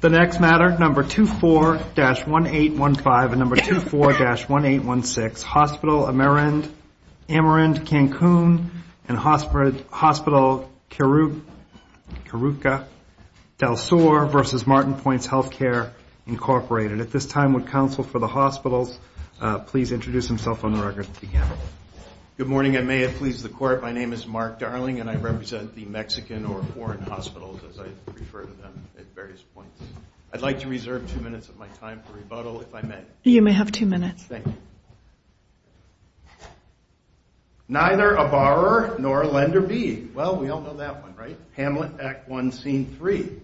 The next matter, number 24-1815 and number 24-1816, Hospital Amerimed Cancun and Hospital Caruca del Sur v. Martin's Point Health Care, Incorporated. At this time, would counsel for the hospitals please introduce themselves on the record. Good morning. I may have pleased the court. My name is Mark Darling and I represent the Mexican or foreign hospitals as I refer to them at various points. I'd like to reserve two minutes of my time for rebuttal if I may. You may have two minutes. Thank you. Neither a borrower nor a lender be. Well, we all know that one, right? Hamlet Act 1 Scene 3.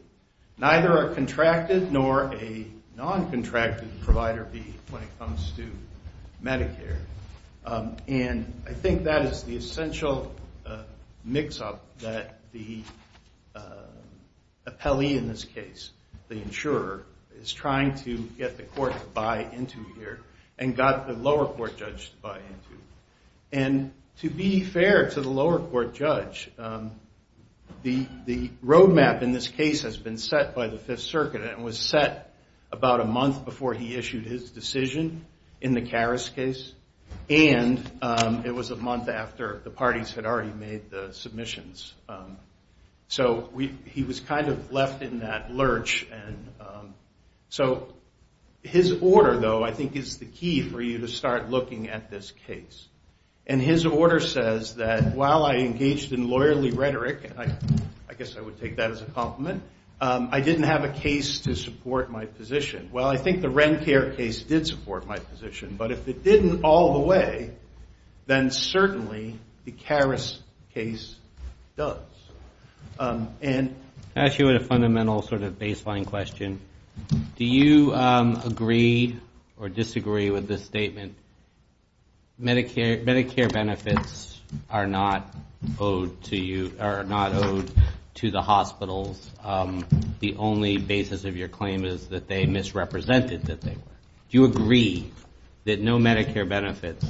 Neither a contracted nor a non-contracted provider be when it comes to Medicare. And I think that is the essential mix-up that the appellee in this case, the insurer, is trying to get the court to buy into here and got the lower court judge to buy into. And to be fair to the lower court judge, the road map in this case has been set by the Fifth Circuit and was set about a month before he issued his decision in the Karas case. And it was a month after the parties had already made the submissions. So he was kind of left in that lurch. And so his order, though, I think is the key for you to start looking at this case. And his order says that while I engaged in lawyerly rhetoric, I guess I would take that as a compliment, I didn't have a case to support my position. Well, I think the Rencare case did support my position. But if it didn't all the way, then certainly the Karas case does. And I'll ask you a fundamental sort of baseline question. Do you agree or disagree with this statement, Medicare benefits are not owed to the hospitals? The only basis of your claim is that they misrepresented that they were. Do you agree that no Medicare benefits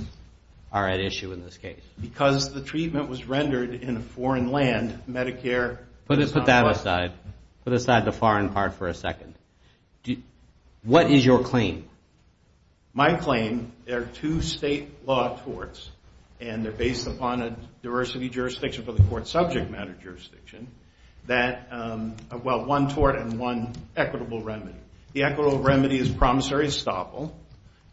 are at issue in this case? Because the treatment was rendered in a foreign land, Medicare is not owed. Put that aside. Put aside the foreign part for a second. What is your claim? My claim, there are two state law torts. And they're based upon a diversity jurisdiction for the court subject matter jurisdiction. That, well, one tort and one equitable remedy. The equitable remedy is promissory estoppel.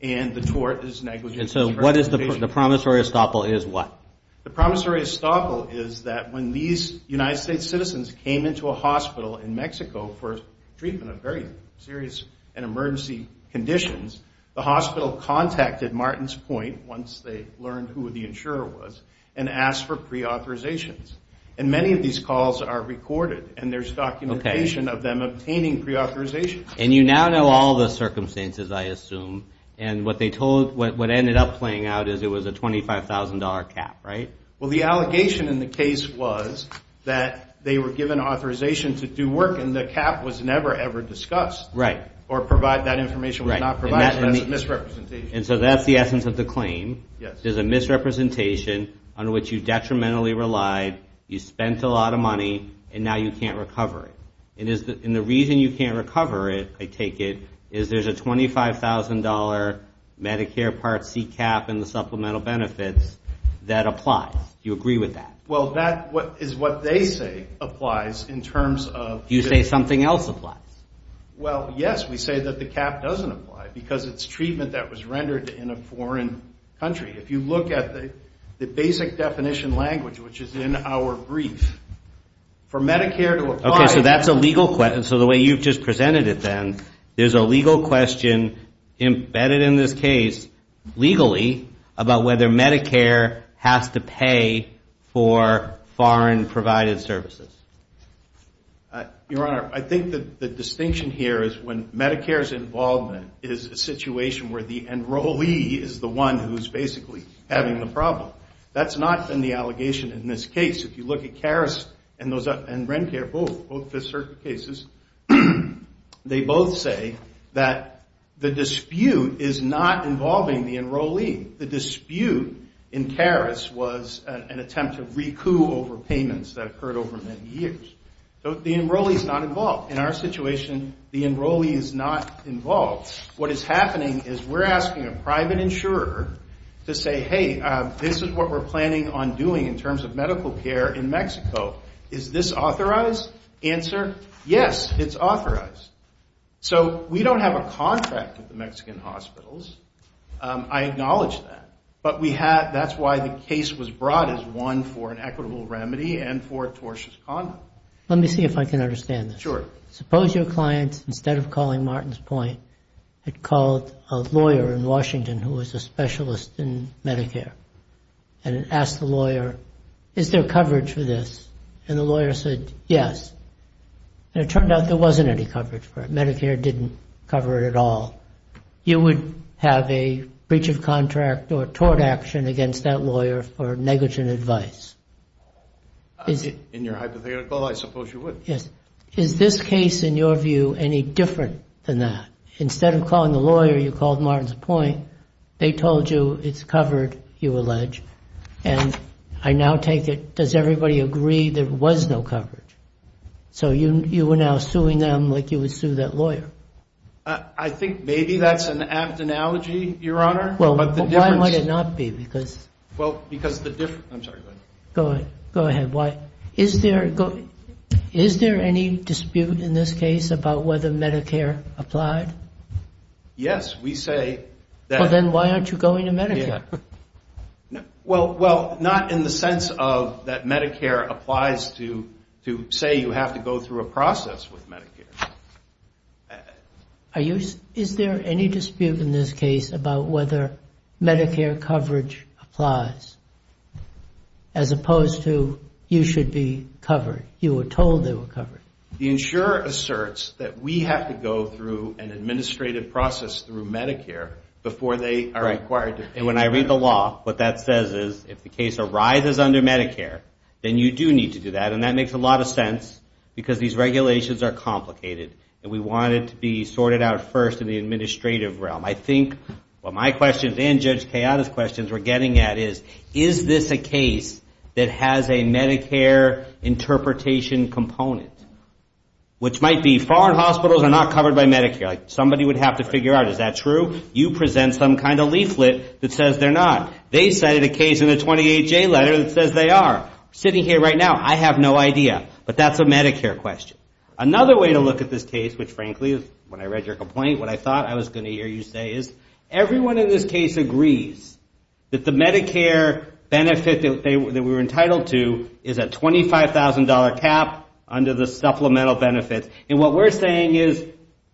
And the tort is negligence. And so the promissory estoppel is what? The promissory estoppel is that when these United States citizens came into a hospital in Mexico for treatment of very serious and emergency conditions, the hospital contacted Martin's Point, once they learned who the insurer was, and asked for preauthorizations. And many of these calls are recorded. And there's documentation of them obtaining preauthorizations. And you now know all the circumstances, I assume. And what they told, what ended up playing out is it was a $25,000 cap, right? Well, the allegation in the case was that they were given authorization to do work, and the cap was never, ever discussed. Right. Or provide that information was not provided. And that's a misrepresentation. And so that's the essence of the claim. Yes. There's a misrepresentation under which you detrimentally relied, you spent a lot of money, and now you can't recover it. And the reason you can't recover it, I take it, is there's a $25,000 Medicare Part C cap in the supplemental benefits that applies. Do you agree with that? Well, that is what they say applies in terms of this. You say something else applies. Well, yes. We say that the cap doesn't apply because it's treatment that was rendered in a foreign country. If you look at the basic definition language, which is in our brief, for Medicare to apply. Okay. So that's a legal question. So the way you've just presented it then, there's a legal question embedded in this case legally about whether Medicare has to pay for foreign-provided services. Your Honor, I think the distinction here is when Medicare's involvement is a situation where the enrollee is the one who's basically having the problem. That's not been the allegation in this case. If you look at CARES and Rencare, both Fifth Circuit cases, they both say that the dispute is not involving the enrollee. The dispute in CARES was an attempt to recoup over payments that occurred over many years. So the enrollee's not involved. In our situation, the enrollee is not involved. What is happening is we're asking a private insurer to say, hey, this is what we're planning on doing in terms of medical care in Mexico. Is this authorized? Answer, yes, it's authorized. So we don't have a contract with the Mexican hospitals. I acknowledge that. But that's why the case was brought as one for an equitable remedy and for tortious conduct. Let me see if I can understand this. Suppose your client, instead of calling Martin's Point, had called a lawyer in Washington who was a specialist in Medicare and had asked the lawyer, is there coverage for this? And the lawyer said, yes. And it turned out there wasn't any coverage for it. Medicare didn't cover it at all. You would have a breach of contract or tort action against that lawyer for negligent advice. In your hypothetical, I suppose you would. Yes. Is this case, in your view, any different than that? Instead of calling the lawyer, you called Martin's Point. They told you it's covered, you allege. And I now take it, does everybody agree there was no coverage? So you were now suing them like you would sue that lawyer. I think maybe that's an apt analogy, Your Honor. Well, why might it not be? Well, because the difference – I'm sorry, go ahead. Go ahead. Is there any dispute in this case about whether Medicare applied? Yes. We say that – Well, then why aren't you going to Medicare? Well, not in the sense of that Medicare applies to say you have to go through a process with Medicare. Is there any dispute in this case about whether Medicare coverage applies as opposed to you should be covered? You were told they were covered. The insurer asserts that we have to go through an administrative process through Medicare before they are required to pay. And when I read the law, what that says is if the case arises under Medicare, then you do need to do that. And that makes a lot of sense because these regulations are complicated. And we want it to be sorted out first in the administrative realm. I think what my questions and Judge Kayada's questions we're getting at is, is this a case that has a Medicare interpretation component? Which might be foreign hospitals are not covered by Medicare. Somebody would have to figure out, is that true? You present some kind of leaflet that says they're not. They cited a case in the 28J letter that says they are. Sitting here right now, I have no idea. But that's a Medicare question. Another way to look at this case, which frankly, when I read your complaint, what I thought I was going to hear you say is everyone in this case agrees that the Medicare benefit that we're entitled to is a $25,000 cap under the supplemental benefits. And what we're saying is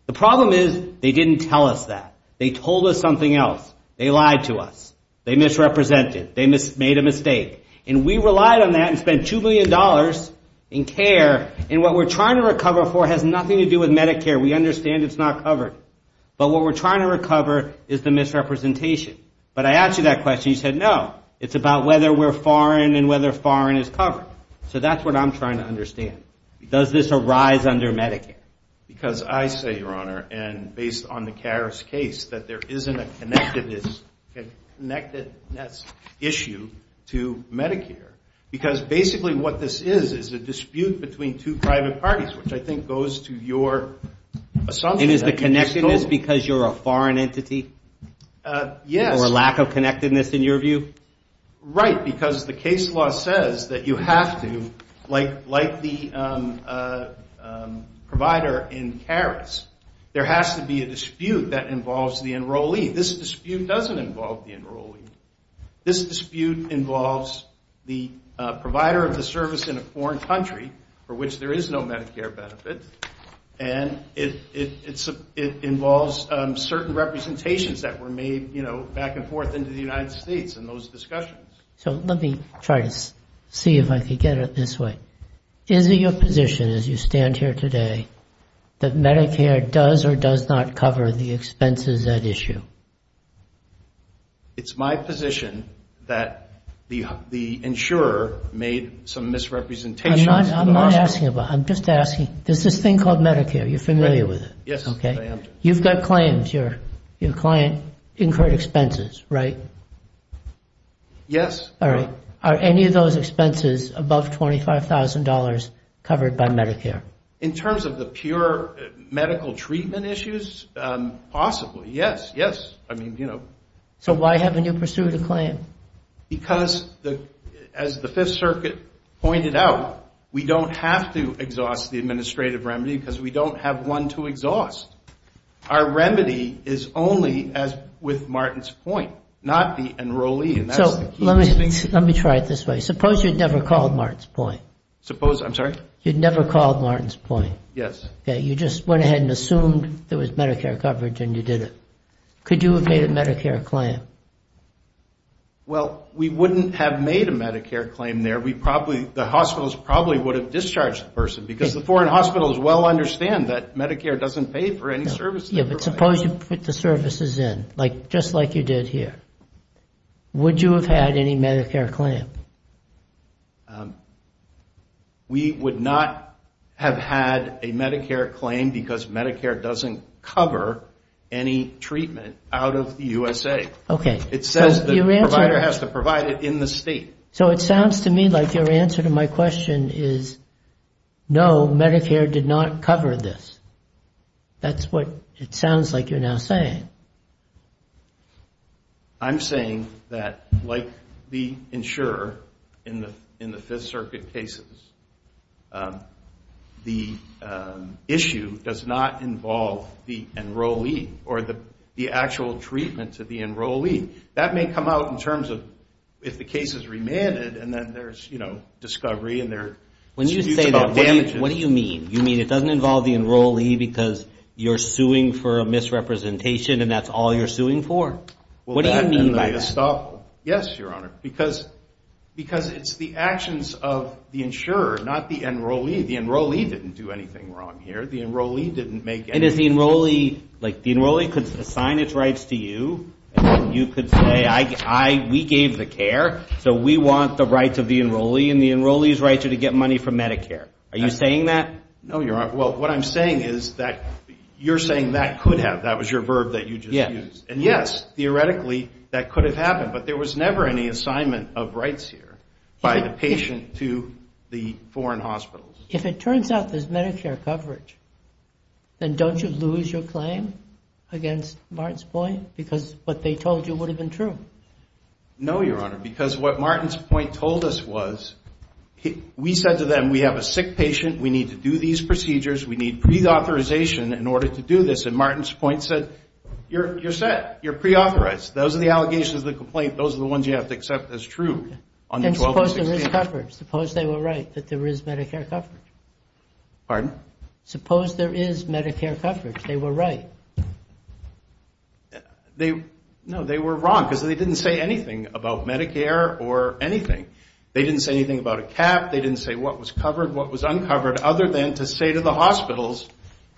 the problem is they didn't tell us that. They told us something else. They lied to us. They misrepresented. They made a mistake. And we relied on that and spent $2 million in care. And what we're trying to recover for has nothing to do with Medicare. We understand it's not covered. But what we're trying to recover is the misrepresentation. But I asked you that question. You said no. It's about whether we're foreign and whether foreign is covered. So that's what I'm trying to understand. Does this arise under Medicare? Because I say, Your Honor, and based on the Karras case, that there isn't a connectedness issue to Medicare. Because basically what this is is a dispute between two private parties, which I think goes to your assumption. And is the connectedness because you're a foreign entity? Yes. Or a lack of connectedness in your view? Right, because the case law says that you have to, like the provider in Karras, there has to be a dispute that involves the enrollee. This dispute doesn't involve the enrollee. This dispute involves the provider of the service in a foreign country for which there is no Medicare benefit. And it involves certain representations that were made, you know, back and forth into the United States in those discussions. So let me try to see if I can get it this way. Is it your position as you stand here today that Medicare does or does not cover the expenses at issue? It's my position that the insurer made some misrepresentations. I'm not asking about it. I'm just asking. There's this thing called Medicare. You're familiar with it. Yes, I am. You've got claims. Your client incurred expenses, right? Yes. All right. Are any of those expenses above $25,000 covered by Medicare? In terms of the pure medical treatment issues, possibly, yes, yes. I mean, you know. So why haven't you pursued a claim? Because, as the Fifth Circuit pointed out, we don't have to exhaust the administrative remedy because we don't have one to exhaust. Our remedy is only with Martin's point, not the enrollee. So let me try it this way. Suppose you'd never called Martin's point. Suppose, I'm sorry? You'd never called Martin's point. Yes. You just went ahead and assumed there was Medicare coverage and you did it. Could you have made a Medicare claim? Well, we wouldn't have made a Medicare claim there. The hospitals probably would have discharged the person because the foreign hospitals well understand that Medicare doesn't pay for any services. Yes, but suppose you put the services in, just like you did here. Would you have had any Medicare claim? We would not have had a Medicare claim because Medicare doesn't cover any treatment out of the USA. Okay. It says the provider has to provide it in the state. So it sounds to me like your answer to my question is, no, Medicare did not cover this. That's what it sounds like you're now saying. I'm saying that, like the insurer in the Fifth Circuit cases, the issue does not involve the enrollee or the actual treatment to the enrollee. That may come out in terms of if the case is remanded and then there's, you know, discovery and there's disputes about damages. When you say that, what do you mean? You mean it doesn't involve the enrollee because you're suing for a misrepresentation and that's all you're suing for? What do you mean by that? Yes, Your Honor, because it's the actions of the insurer, not the enrollee. The enrollee didn't do anything wrong here. The enrollee didn't make any mistakes. And is the enrollee, like the enrollee could assign its rights to you and then you could say, we gave the care, so we want the rights of the enrollee, and the enrollee's rights are to get money from Medicare. Are you saying that? No, Your Honor. Well, what I'm saying is that you're saying that could have. That was your verb that you just used. And yes, theoretically, that could have happened, but there was never any assignment of rights here by the patient to the foreign hospitals. If it turns out there's Medicare coverage, then don't you lose your claim against Martin's point? Because what they told you would have been true. No, Your Honor. Because what Martin's point told us was, we said to them, we have a sick patient. We need to do these procedures. We need pre-authorization in order to do this. And Martin's point said, you're set. You're pre-authorized. Those are the allegations of the complaint. Those are the ones you have to accept as true. And suppose there is coverage. Suppose they were right that there is Medicare coverage. Pardon? Suppose there is Medicare coverage. They were right. No, they were wrong, because they didn't say anything about Medicare or anything. They didn't say anything about a cap. They didn't say what was covered, what was uncovered, other than to say to the hospitals,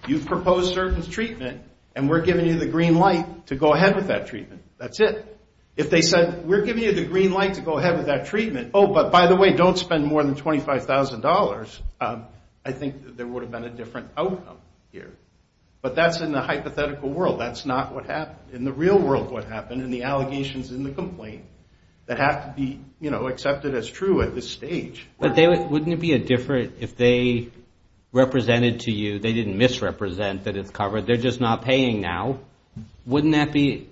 you've proposed certain treatment, and we're giving you the green light to go ahead with that treatment. That's it. If they said, we're giving you the green light to go ahead with that treatment. Oh, but by the way, don't spend more than $25,000. I think there would have been a different outcome here. But that's in the hypothetical world. That's not what happened. In the real world, what happened, and the allegations in the complaint that have to be accepted as true at this stage. But wouldn't it be different if they represented to you, they didn't misrepresent that it's covered. They're just not paying now. Wouldn't that be,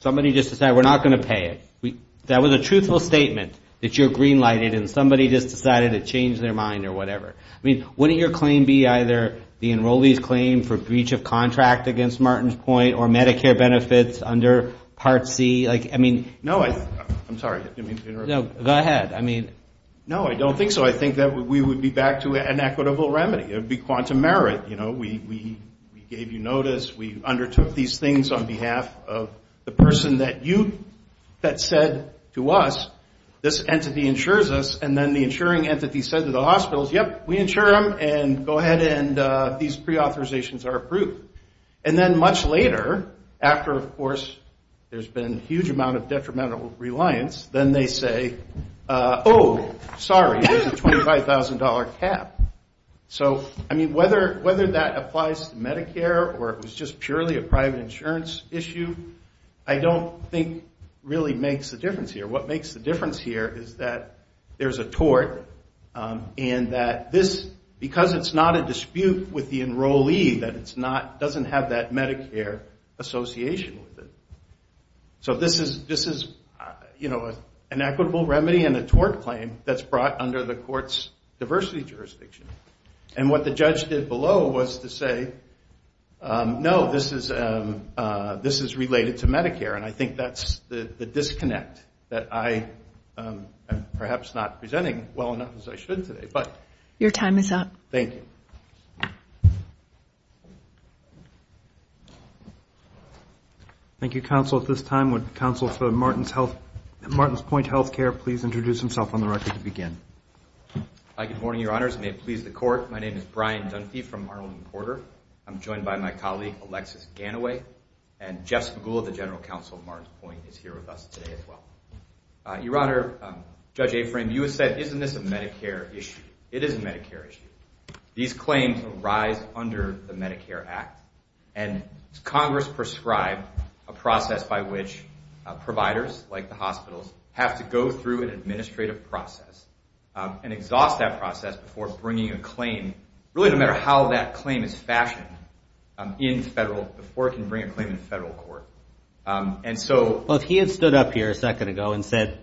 somebody just decided, we're not going to pay it. That was a truthful statement that you're green lighted and somebody just decided to change their mind or whatever. Wouldn't your claim be either the enrollees claim for breach of contract against Martin's Point or Medicare benefits under Part C? I'm sorry. Go ahead. No, I don't think so. I think we would be back to an equitable remedy. It would be quantum merit. We gave you notice. We undertook these things on behalf of the person that said to us, this entity insures us. And then the insuring entity said to the hospitals, yep, we insure them. And go ahead and these preauthorizations are approved. And then much later, after, of course, there's been a huge amount of detrimental reliance, then they say, oh, sorry. There's a $25,000 cap. So, I mean, whether that applies to Medicare or it was just purely a private insurance issue, I don't think really makes a difference here. What makes the difference here is that there's a tort and that this, because it's not a dispute with the enrollee, that it doesn't have that Medicare association with it. So this is an equitable remedy and a tort claim that's brought under the court's diversity jurisdiction. And what the judge did below was to say, no, this is related to Medicare. And I think that's the disconnect that I am perhaps not presenting well enough as I should today. But your time is up. Thank you. Thank you, counsel. At this time, would counsel for Martin's Point Health Care please introduce himself on the record to begin. Good morning, your honors. May it please the court. My name is Brian Dunphy from Arnold and Porter. I'm joined by my colleague, Alexis Ganaway. And Jeff Spagula, the general counsel of Martin's Point, is here with us today as well. Your honor, Judge Aframe, you have said, isn't this a Medicare issue? It is a Medicare issue. These claims arise under the Medicare Act. And Congress prescribed a process by which providers, like the hospitals, have to go through an administrative process and exhaust that process before bringing a claim, really no matter how that claim is fashioned, in federal, before it can bring a claim in federal court. And so... Well, if he had stood up here a second ago and said,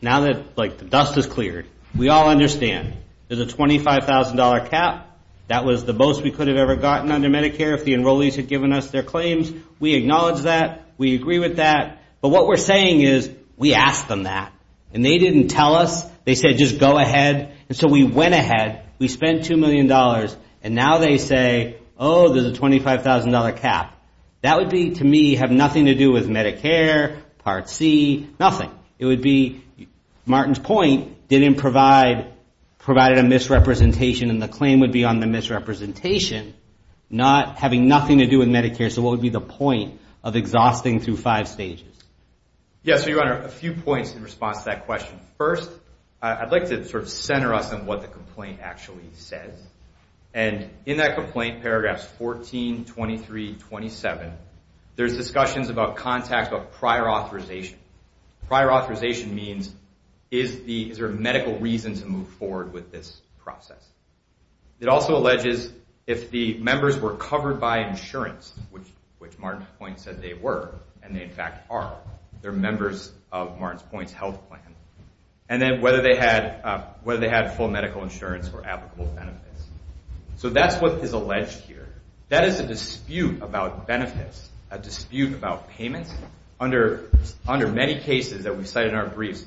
now that, like, the dust has cleared, we all understand. There's a $25,000 cap. That was the most we could have ever gotten under Medicare if the enrollees had given us their claims. We acknowledge that. We agree with that. But what we're saying is, we asked them that. And they didn't tell us. They said, just go ahead. And so we went ahead, we spent $2 million, and now they say, oh, there's a $25,000 cap. That would be, to me, have nothing to do with Medicare, Part C, nothing. It would be, Martin's point, didn't provide, provided a misrepresentation, and the claim would be on the misrepresentation, not having nothing to do with Medicare. So what would be the point of exhausting through five stages? Yes, Your Honor, a few points in response to that question. First, I'd like to sort of center us on what the complaint actually says. And in that complaint, paragraphs 14, 23, 27, there's discussions about contact, about prior authorization. Prior authorization means, is there a medical reason to move forward with this process? It also alleges if the members were covered by insurance, which Martin's point said they were, and they in fact are. They're members of Martin's point's health plan. And then whether they had full medical insurance or applicable benefits. So that's what is alleged here. That is a dispute about benefits, a dispute about payments under Medicare. And in many cases that we cite in our briefs,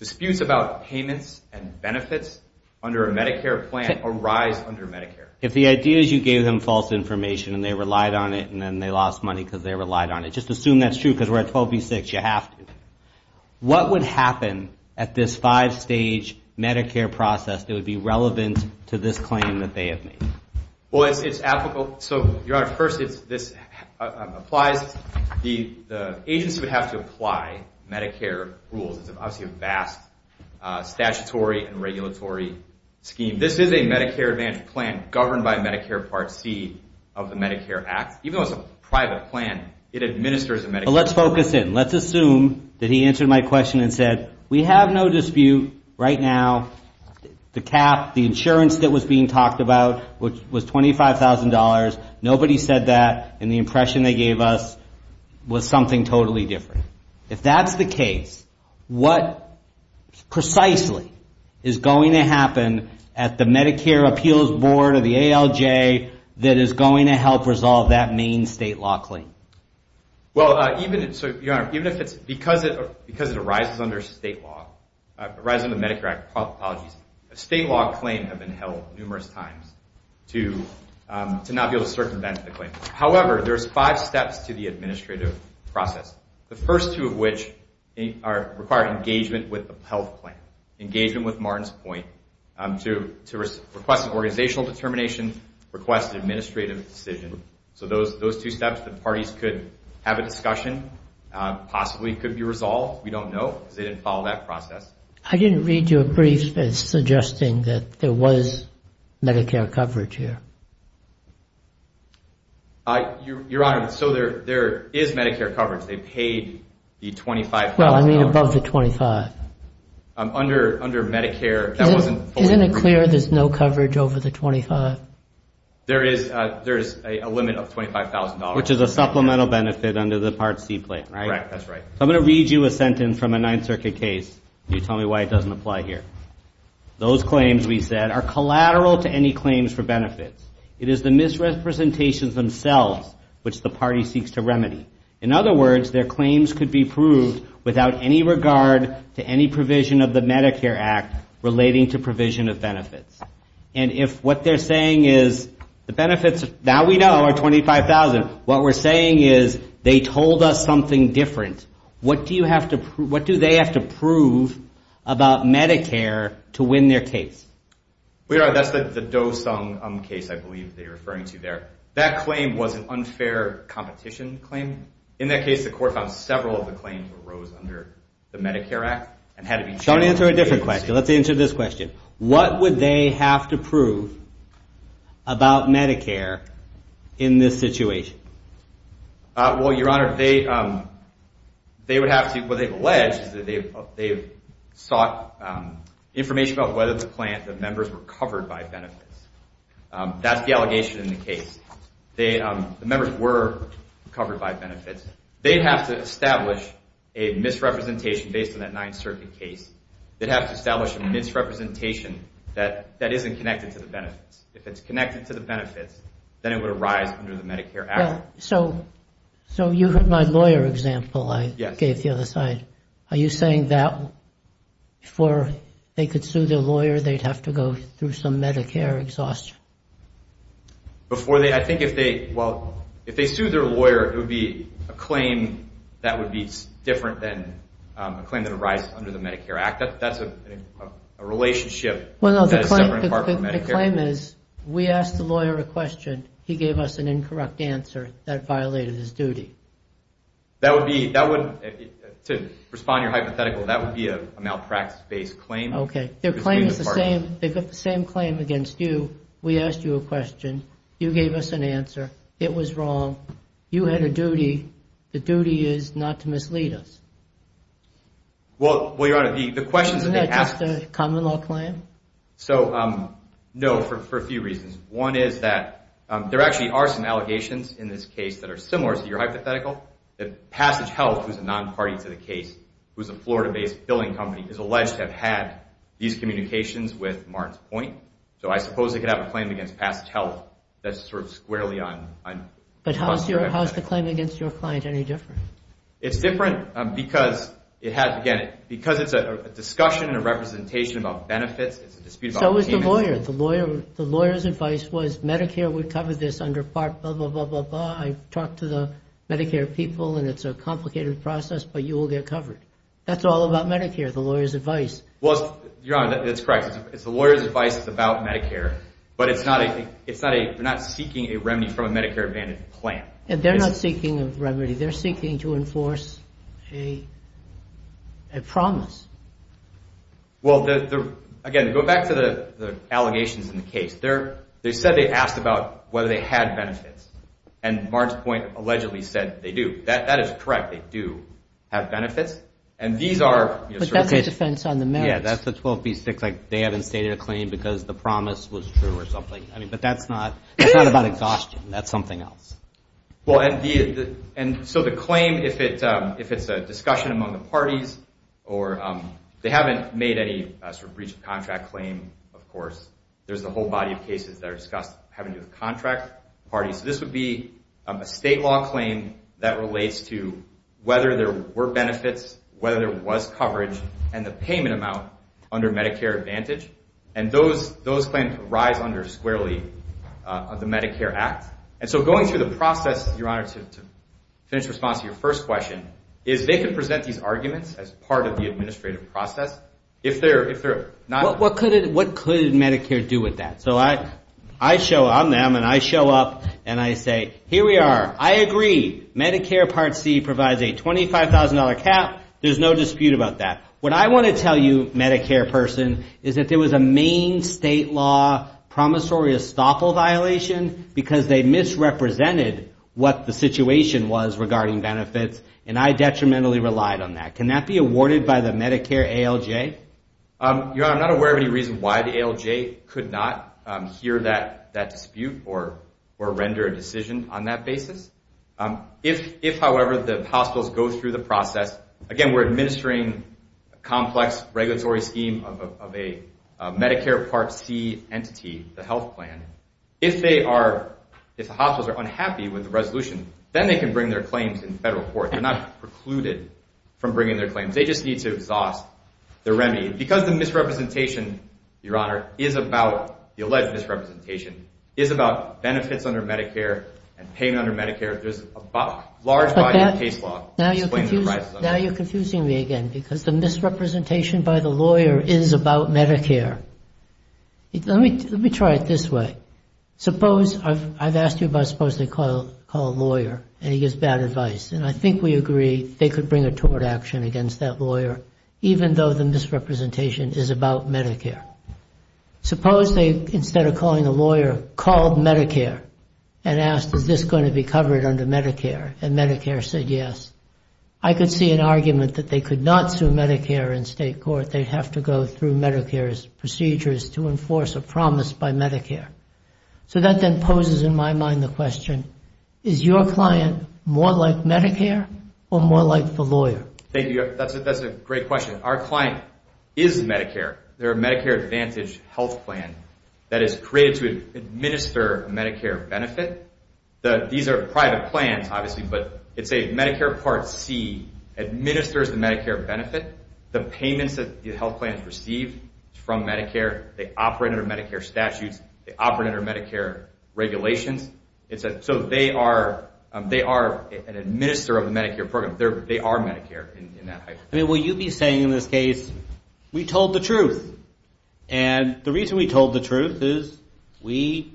disputes about payments and benefits under a Medicare plan arise under Medicare. If the idea is you gave them false information and they relied on it and then they lost money because they relied on it, just assume that's true because we're at 12B6, you have to. What would happen at this five-stage Medicare process that would be relevant to this claim that they have made? Well, it's applicable. So, Your Honor, first, this applies. The agency would have to apply Medicare rules. It's obviously a vast statutory and regulatory scheme. This is a Medicare plan governed by Medicare Part C of the Medicare Act. Even though it's a private plan, it administers a Medicare plan. Well, let's focus in. Let's assume that he answered my question and said, we have no dispute right now. The cap, the insurance that was being talked about was $25,000. Nobody said that. And the impression they gave us was something totally different. If that's the case, what precisely is going to happen at the Medicare Appeals Board or the ALJ that is going to help resolve that main state law claim? Well, even if it's because it arises under state law, arises under the Medicare Act, apologies, a state law claim has been held numerous times to make sure that the claim is valid. It should not be able to circumvent the claim. However, there's five steps to the administrative process. The first two of which require engagement with the health plan, engagement with Martin's point, to request an organizational determination, request an administrative decision. So those two steps, the parties could have a discussion, possibly could be resolved. We don't know because they didn't follow that process. I didn't read your brief as suggesting that there was Medicare coverage here. Your Honor, so there is Medicare coverage. They paid the $25,000. Well, I mean above the $25,000. Under Medicare, that wasn't fully covered. Isn't it clear there's no coverage over the $25,000? There is a limit of $25,000. Which is a supplemental benefit under the Part C plan, right? Correct, that's right. So I'm going to read you a sentence from a Ninth Circuit case. You tell me why it doesn't apply here. Those claims, we said, are collateral to any claims for benefits. It is the misrepresentations themselves which the party seeks to remedy. In other words, their claims could be proved without any regard to any provision of the Medicare Act relating to provision of benefits. And if what they're saying is the benefits that we know are $25,000, what we're saying is they told us something different. What do they have to prove about Medicare to win their case? Well, Your Honor, that's the Dosung case I believe they're referring to there. That claim was an unfair competition claim. In that case, the court found several of the claims arose under the Medicare Act. So I'm going to answer a different question. Let's answer this question. What would they have to prove about Medicare in this situation? Well, Your Honor, they would have to, what they've alleged is that they've sought information about whether the members were covered by benefits. That's the allegation in the case. The members were covered by benefits. They'd have to establish a misrepresentation based on that Ninth Circuit case. They'd have to establish a misrepresentation that isn't connected to the benefits. If it's connected to the benefits, then it would arise under the Medicare Act. So you have my lawyer example I gave the other side. Are you saying that before they could sue their lawyer, they'd have to go through some Medicare exhaustion? Before they, I think if they, well, if they sue their lawyer, it would be a claim that would be different than a claim that arises under the Medicare Act. That's a relationship that is separate from Medicare. The claim is, we asked the lawyer a question. He gave us an incorrect answer that violated his duty. That would be, to respond to your hypothetical, that would be a malpractice-based claim. Okay. Their claim is the same. They got the same claim against you. We asked you a question. You gave us an answer. It was wrong. You had a duty. The duty is not to mislead us. Well, Your Honor, the questions that they asked... So, no, for a few reasons. One is that there actually are some allegations in this case that are similar to your hypothetical. That Passage Health, who is a non-party to the case, who is a Florida-based billing company, is alleged to have had these communications with Martins Point. So I suppose they could have a claim against Passage Health that's sort of squarely on... But how is the claim against your client any different? It's different because it has... Again, because it's a discussion and a representation about benefits, it's a dispute about payments... So is the lawyer. The lawyer's advice was Medicare would cover this under Part... I talked to the Medicare people and it's a complicated process, but you will get covered. That's all about Medicare, the lawyer's advice. Well, Your Honor, that's correct. The lawyer's advice is about Medicare, but it's not a... They're not seeking a remedy from a Medicare Advantage plan. They're not seeking a remedy. They're seeking to enforce a promise. Well, again, go back to the allegations in the case. They said they asked about whether they had benefits, and Martins Point allegedly said they do. That is correct. They do have benefits. But that's a defense on the merits. Yeah, that's the 12B6. They haven't stated a claim because the promise was true or something. But that's not about exhaustion. That's something else. So the claim, if it's a discussion among the parties or they haven't made any breach of contract claim, of course, there's a whole body of cases that are discussed having to do with contract parties. So this would be a state law claim that relates to whether there were benefits, whether there was coverage, and the payment amount under Medicare Advantage. And those claims rise under squarely of the Medicare Act. And so going through the process, Your Honor, to finish response to your first question, is they can present these arguments as part of the administrative process if they're not... What could Medicare do with that? So I'm them, and I show up, and I say, Here we are. I agree. Medicare Part C provides a $25,000 cap. There's no dispute about that. What I want to tell you, Medicare person, is that there was a main state law promissory estoppel violation because they misrepresented what the situation was regarding benefits, and I detrimentally relied on that. Can that be awarded by the Medicare ALJ? Your Honor, I'm not aware of any reason why the ALJ could not hear that dispute or render a decision on that basis. If, however, the hospitals go through the process... Again, we're administering a complex regulatory scheme of a Medicare Part C entity, the health plan. If the hospitals are unhappy with the resolution, then they can bring their claims in federal court. They're not precluded from bringing their claims. They just need to exhaust their remedy. Because the misrepresentation, Your Honor, is about the alleged misrepresentation, is about benefits under Medicare and payment under Medicare, there's a large body of case law... Now you're confusing me again because the misrepresentation by the lawyer is about Medicare. Let me try it this way. I've asked you about supposing they call a lawyer, and he gives bad advice, and I think we agree they could bring a tort action against that lawyer, even though the misrepresentation is about Medicare. Suppose they, instead of calling a lawyer, called Medicare and asked, is this going to be covered under Medicare? And Medicare said yes. I could see an argument that they could not sue Medicare in state court. They'd have to go through Medicare's procedures to enforce a promise by Medicare. So that then poses in my mind the question, is your client more like Medicare or more like the lawyer? Thank you. That's a great question. Our client is Medicare. They're a Medicare Advantage health plan that is created to administer Medicare benefit. These are private plans, obviously, but it's a Medicare Part C, administers the Medicare benefit, the payments that the health plans receive from Medicare, they operate under Medicare statutes, they operate under Medicare regulations. So they are an administer of the Medicare program. They are Medicare in that. Will you be saying in this case, we told the truth. And the reason we told the truth is we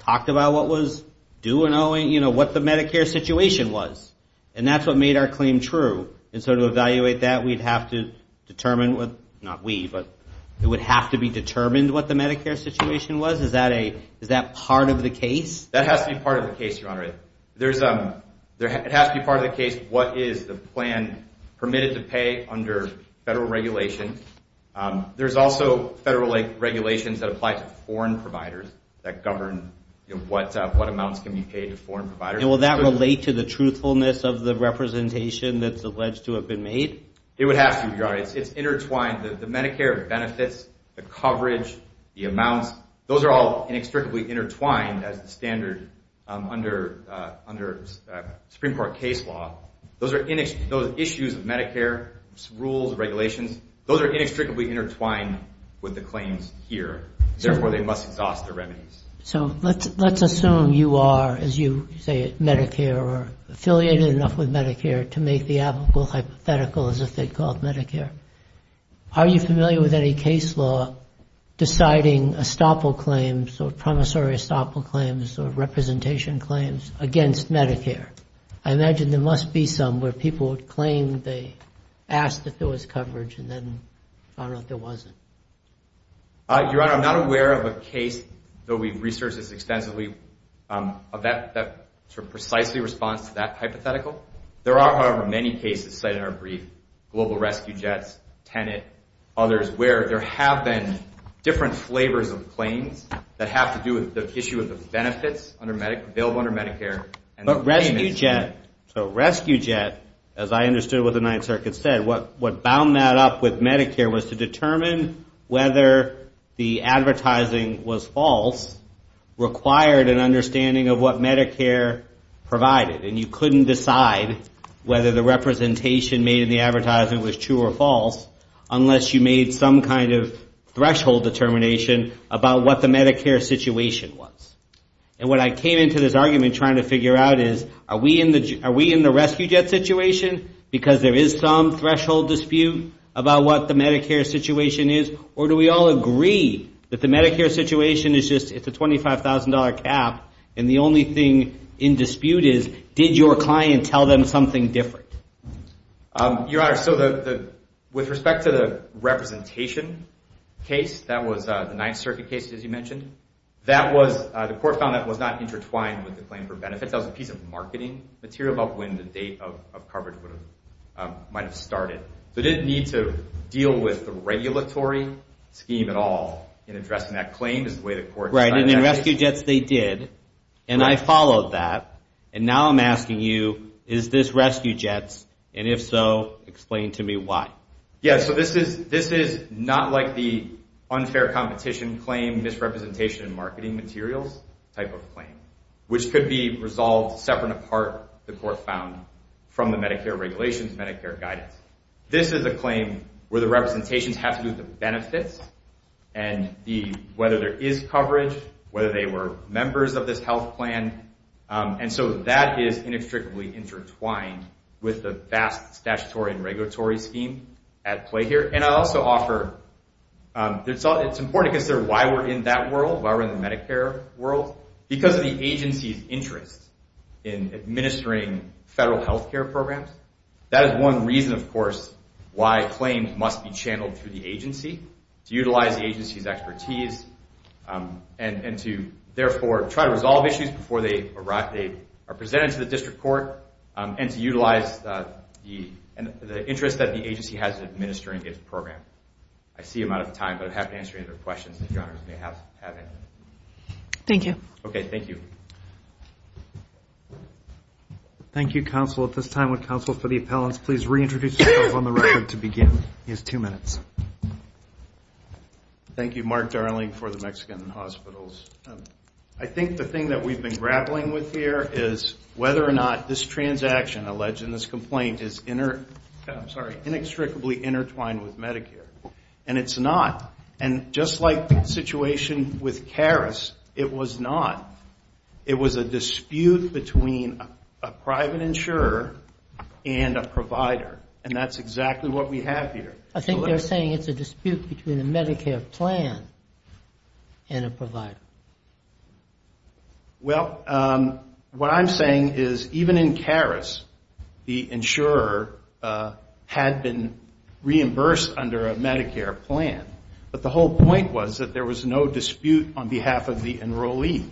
talked about what was due and what the Medicare situation was. And that's what made our claim true. And so to evaluate that, we'd have to determine, not we, but it would have to be determined what the Medicare situation was. Is that part of the case? That has to be part of the case, Your Honor. It has to be part of the case what is the plan permitted to pay under federal regulations. There's also federal regulations that apply to foreign providers that govern what amounts can be paid to foreign providers. And will that relate to the truthfulness of the representation that's alleged to have been made? It would have to, Your Honor. It's intertwined. The Medicare benefits, the coverage, the amounts, those are all inextricably intertwined as the standard under Supreme Court case law. Those issues of Medicare, rules, regulations, those are inextricably intertwined with the claims here. Therefore, they must exhaust the remedies. So let's assume you are, as you say it, Medicare or affiliated enough with Medicare to make the applicable hypothetical as if they called Medicare. Are you familiar with any case law deciding estoppel claims or promissory estoppel claims or representation claims against Medicare? I imagine there must be some where people would claim they asked if there was coverage and then found out there wasn't. Your Honor, I'm not aware of a case, though we've researched this extensively, that precisely responds to that hypothetical. There are, however, many cases cited in our brief, Global Rescue Jets, Tenet, others, where there have been different flavors of claims that have to do with the issue of the benefits available under Medicare. Rescue Jet, as I understood what the Ninth Circuit said, what bound that up with Medicare was to determine whether the advertising was false required an understanding of what Medicare provided and you couldn't decide whether the representation made in the advertisement was true or false unless you made some kind of threshold determination about what the Medicare situation was. And what I came into this argument trying to figure out is are we in the Rescue Jet situation because there is some threshold dispute about what the Medicare situation is or do we all agree that the Medicare situation is just it's a $25,000 cap and the only thing in dispute is did your client tell them something different? Your Honor, so with respect to the representation case, that was the Ninth Circuit case, as you mentioned, that was, the court found that was not intertwined with the claim for benefits. That was a piece of marketing material about when the date of coverage might have started. So it didn't need to deal with the regulatory scheme at all in addressing that claim. Right, and in Rescue Jets they did and I followed that and now I'm asking you, is this Rescue Jets and if so, explain to me why. Yeah, so this is not like the unfair competition claim misrepresentation in marketing materials type of claim which could be resolved separate and apart, the court found, from the Medicare regulations, Medicare guidance. This is a claim where the representations have to do with the benefits and whether there is coverage, whether they were members of this health plan and so that is inextricably intertwined with the vast statutory and regulatory scheme at play here and I'll also offer, it's important to consider why we're in that world, why we're in the Medicare world. Because of the agency's interest in administering federal health care programs, that is one reason of course why claims must be channeled through the agency to utilize the agency's expertise and to therefore try to resolve issues before they are presented to the district court and to utilize the interest that the agency has in administering its program. I see I'm out of time but I'd be happy to answer any other questions that you may have. Thank you. Okay, thank you. Thank you, counsel. At this time would counsel for the appellants please reintroduce themselves on the record to begin. You have two minutes. Thank you, Mark Darling for the Mexican Hospitals. I think the thing that we've been grappling with here is whether or not this transaction alleged in this complaint is inextricably intertwined with Medicare and it's not and just like the situation with Caris, it was not. It was a dispute between a private insurer and a provider and that's exactly what we have here. I think they're saying it's a dispute between a Medicare plan and a provider. Well, what I'm saying is even in Caris, the insurer had been reimbursed under a Medicare plan so there was no dispute on behalf of the enrollee.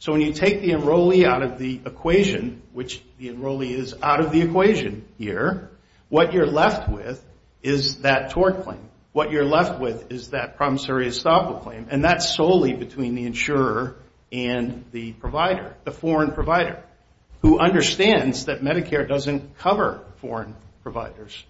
So when you take the enrollee out of the equation which the enrollee is out of the equation here what you're left with is that tort claim. What you're left with is that promissory estoppel claim and that's solely between the insurer and the provider, the foreign provider who understands that Medicare doesn't cover foreign providers.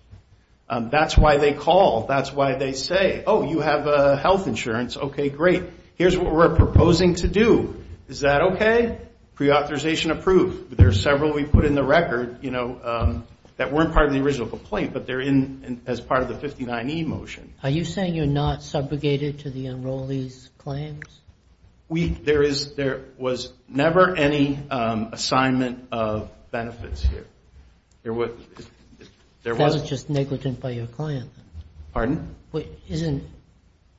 That's why they call. That's why they say, oh, you have health insurance. Okay, great. Here's what we're proposing to do. Is that okay? Pre-authorization approved. There are several we've put in the record that weren't part of the original complaint but they're in as part of the 59E motion. Are you saying you're not subrogated to the enrollee's claims? There was never any assignment of benefits here. That was just negligent by your client. Isn't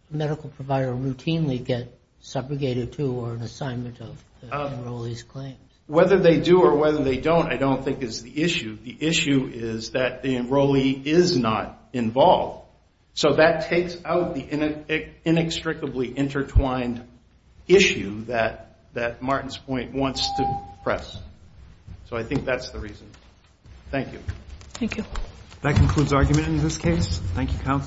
the medical provider routinely get subrogated to or an assignment of the enrollee's claims? Whether they do or whether they don't I don't think is the issue. The issue is that the enrollee is not involved. So that takes out the inextricably intertwined issue that Martin's point wants to press. So I think that's the reason. Thank you. Thank you.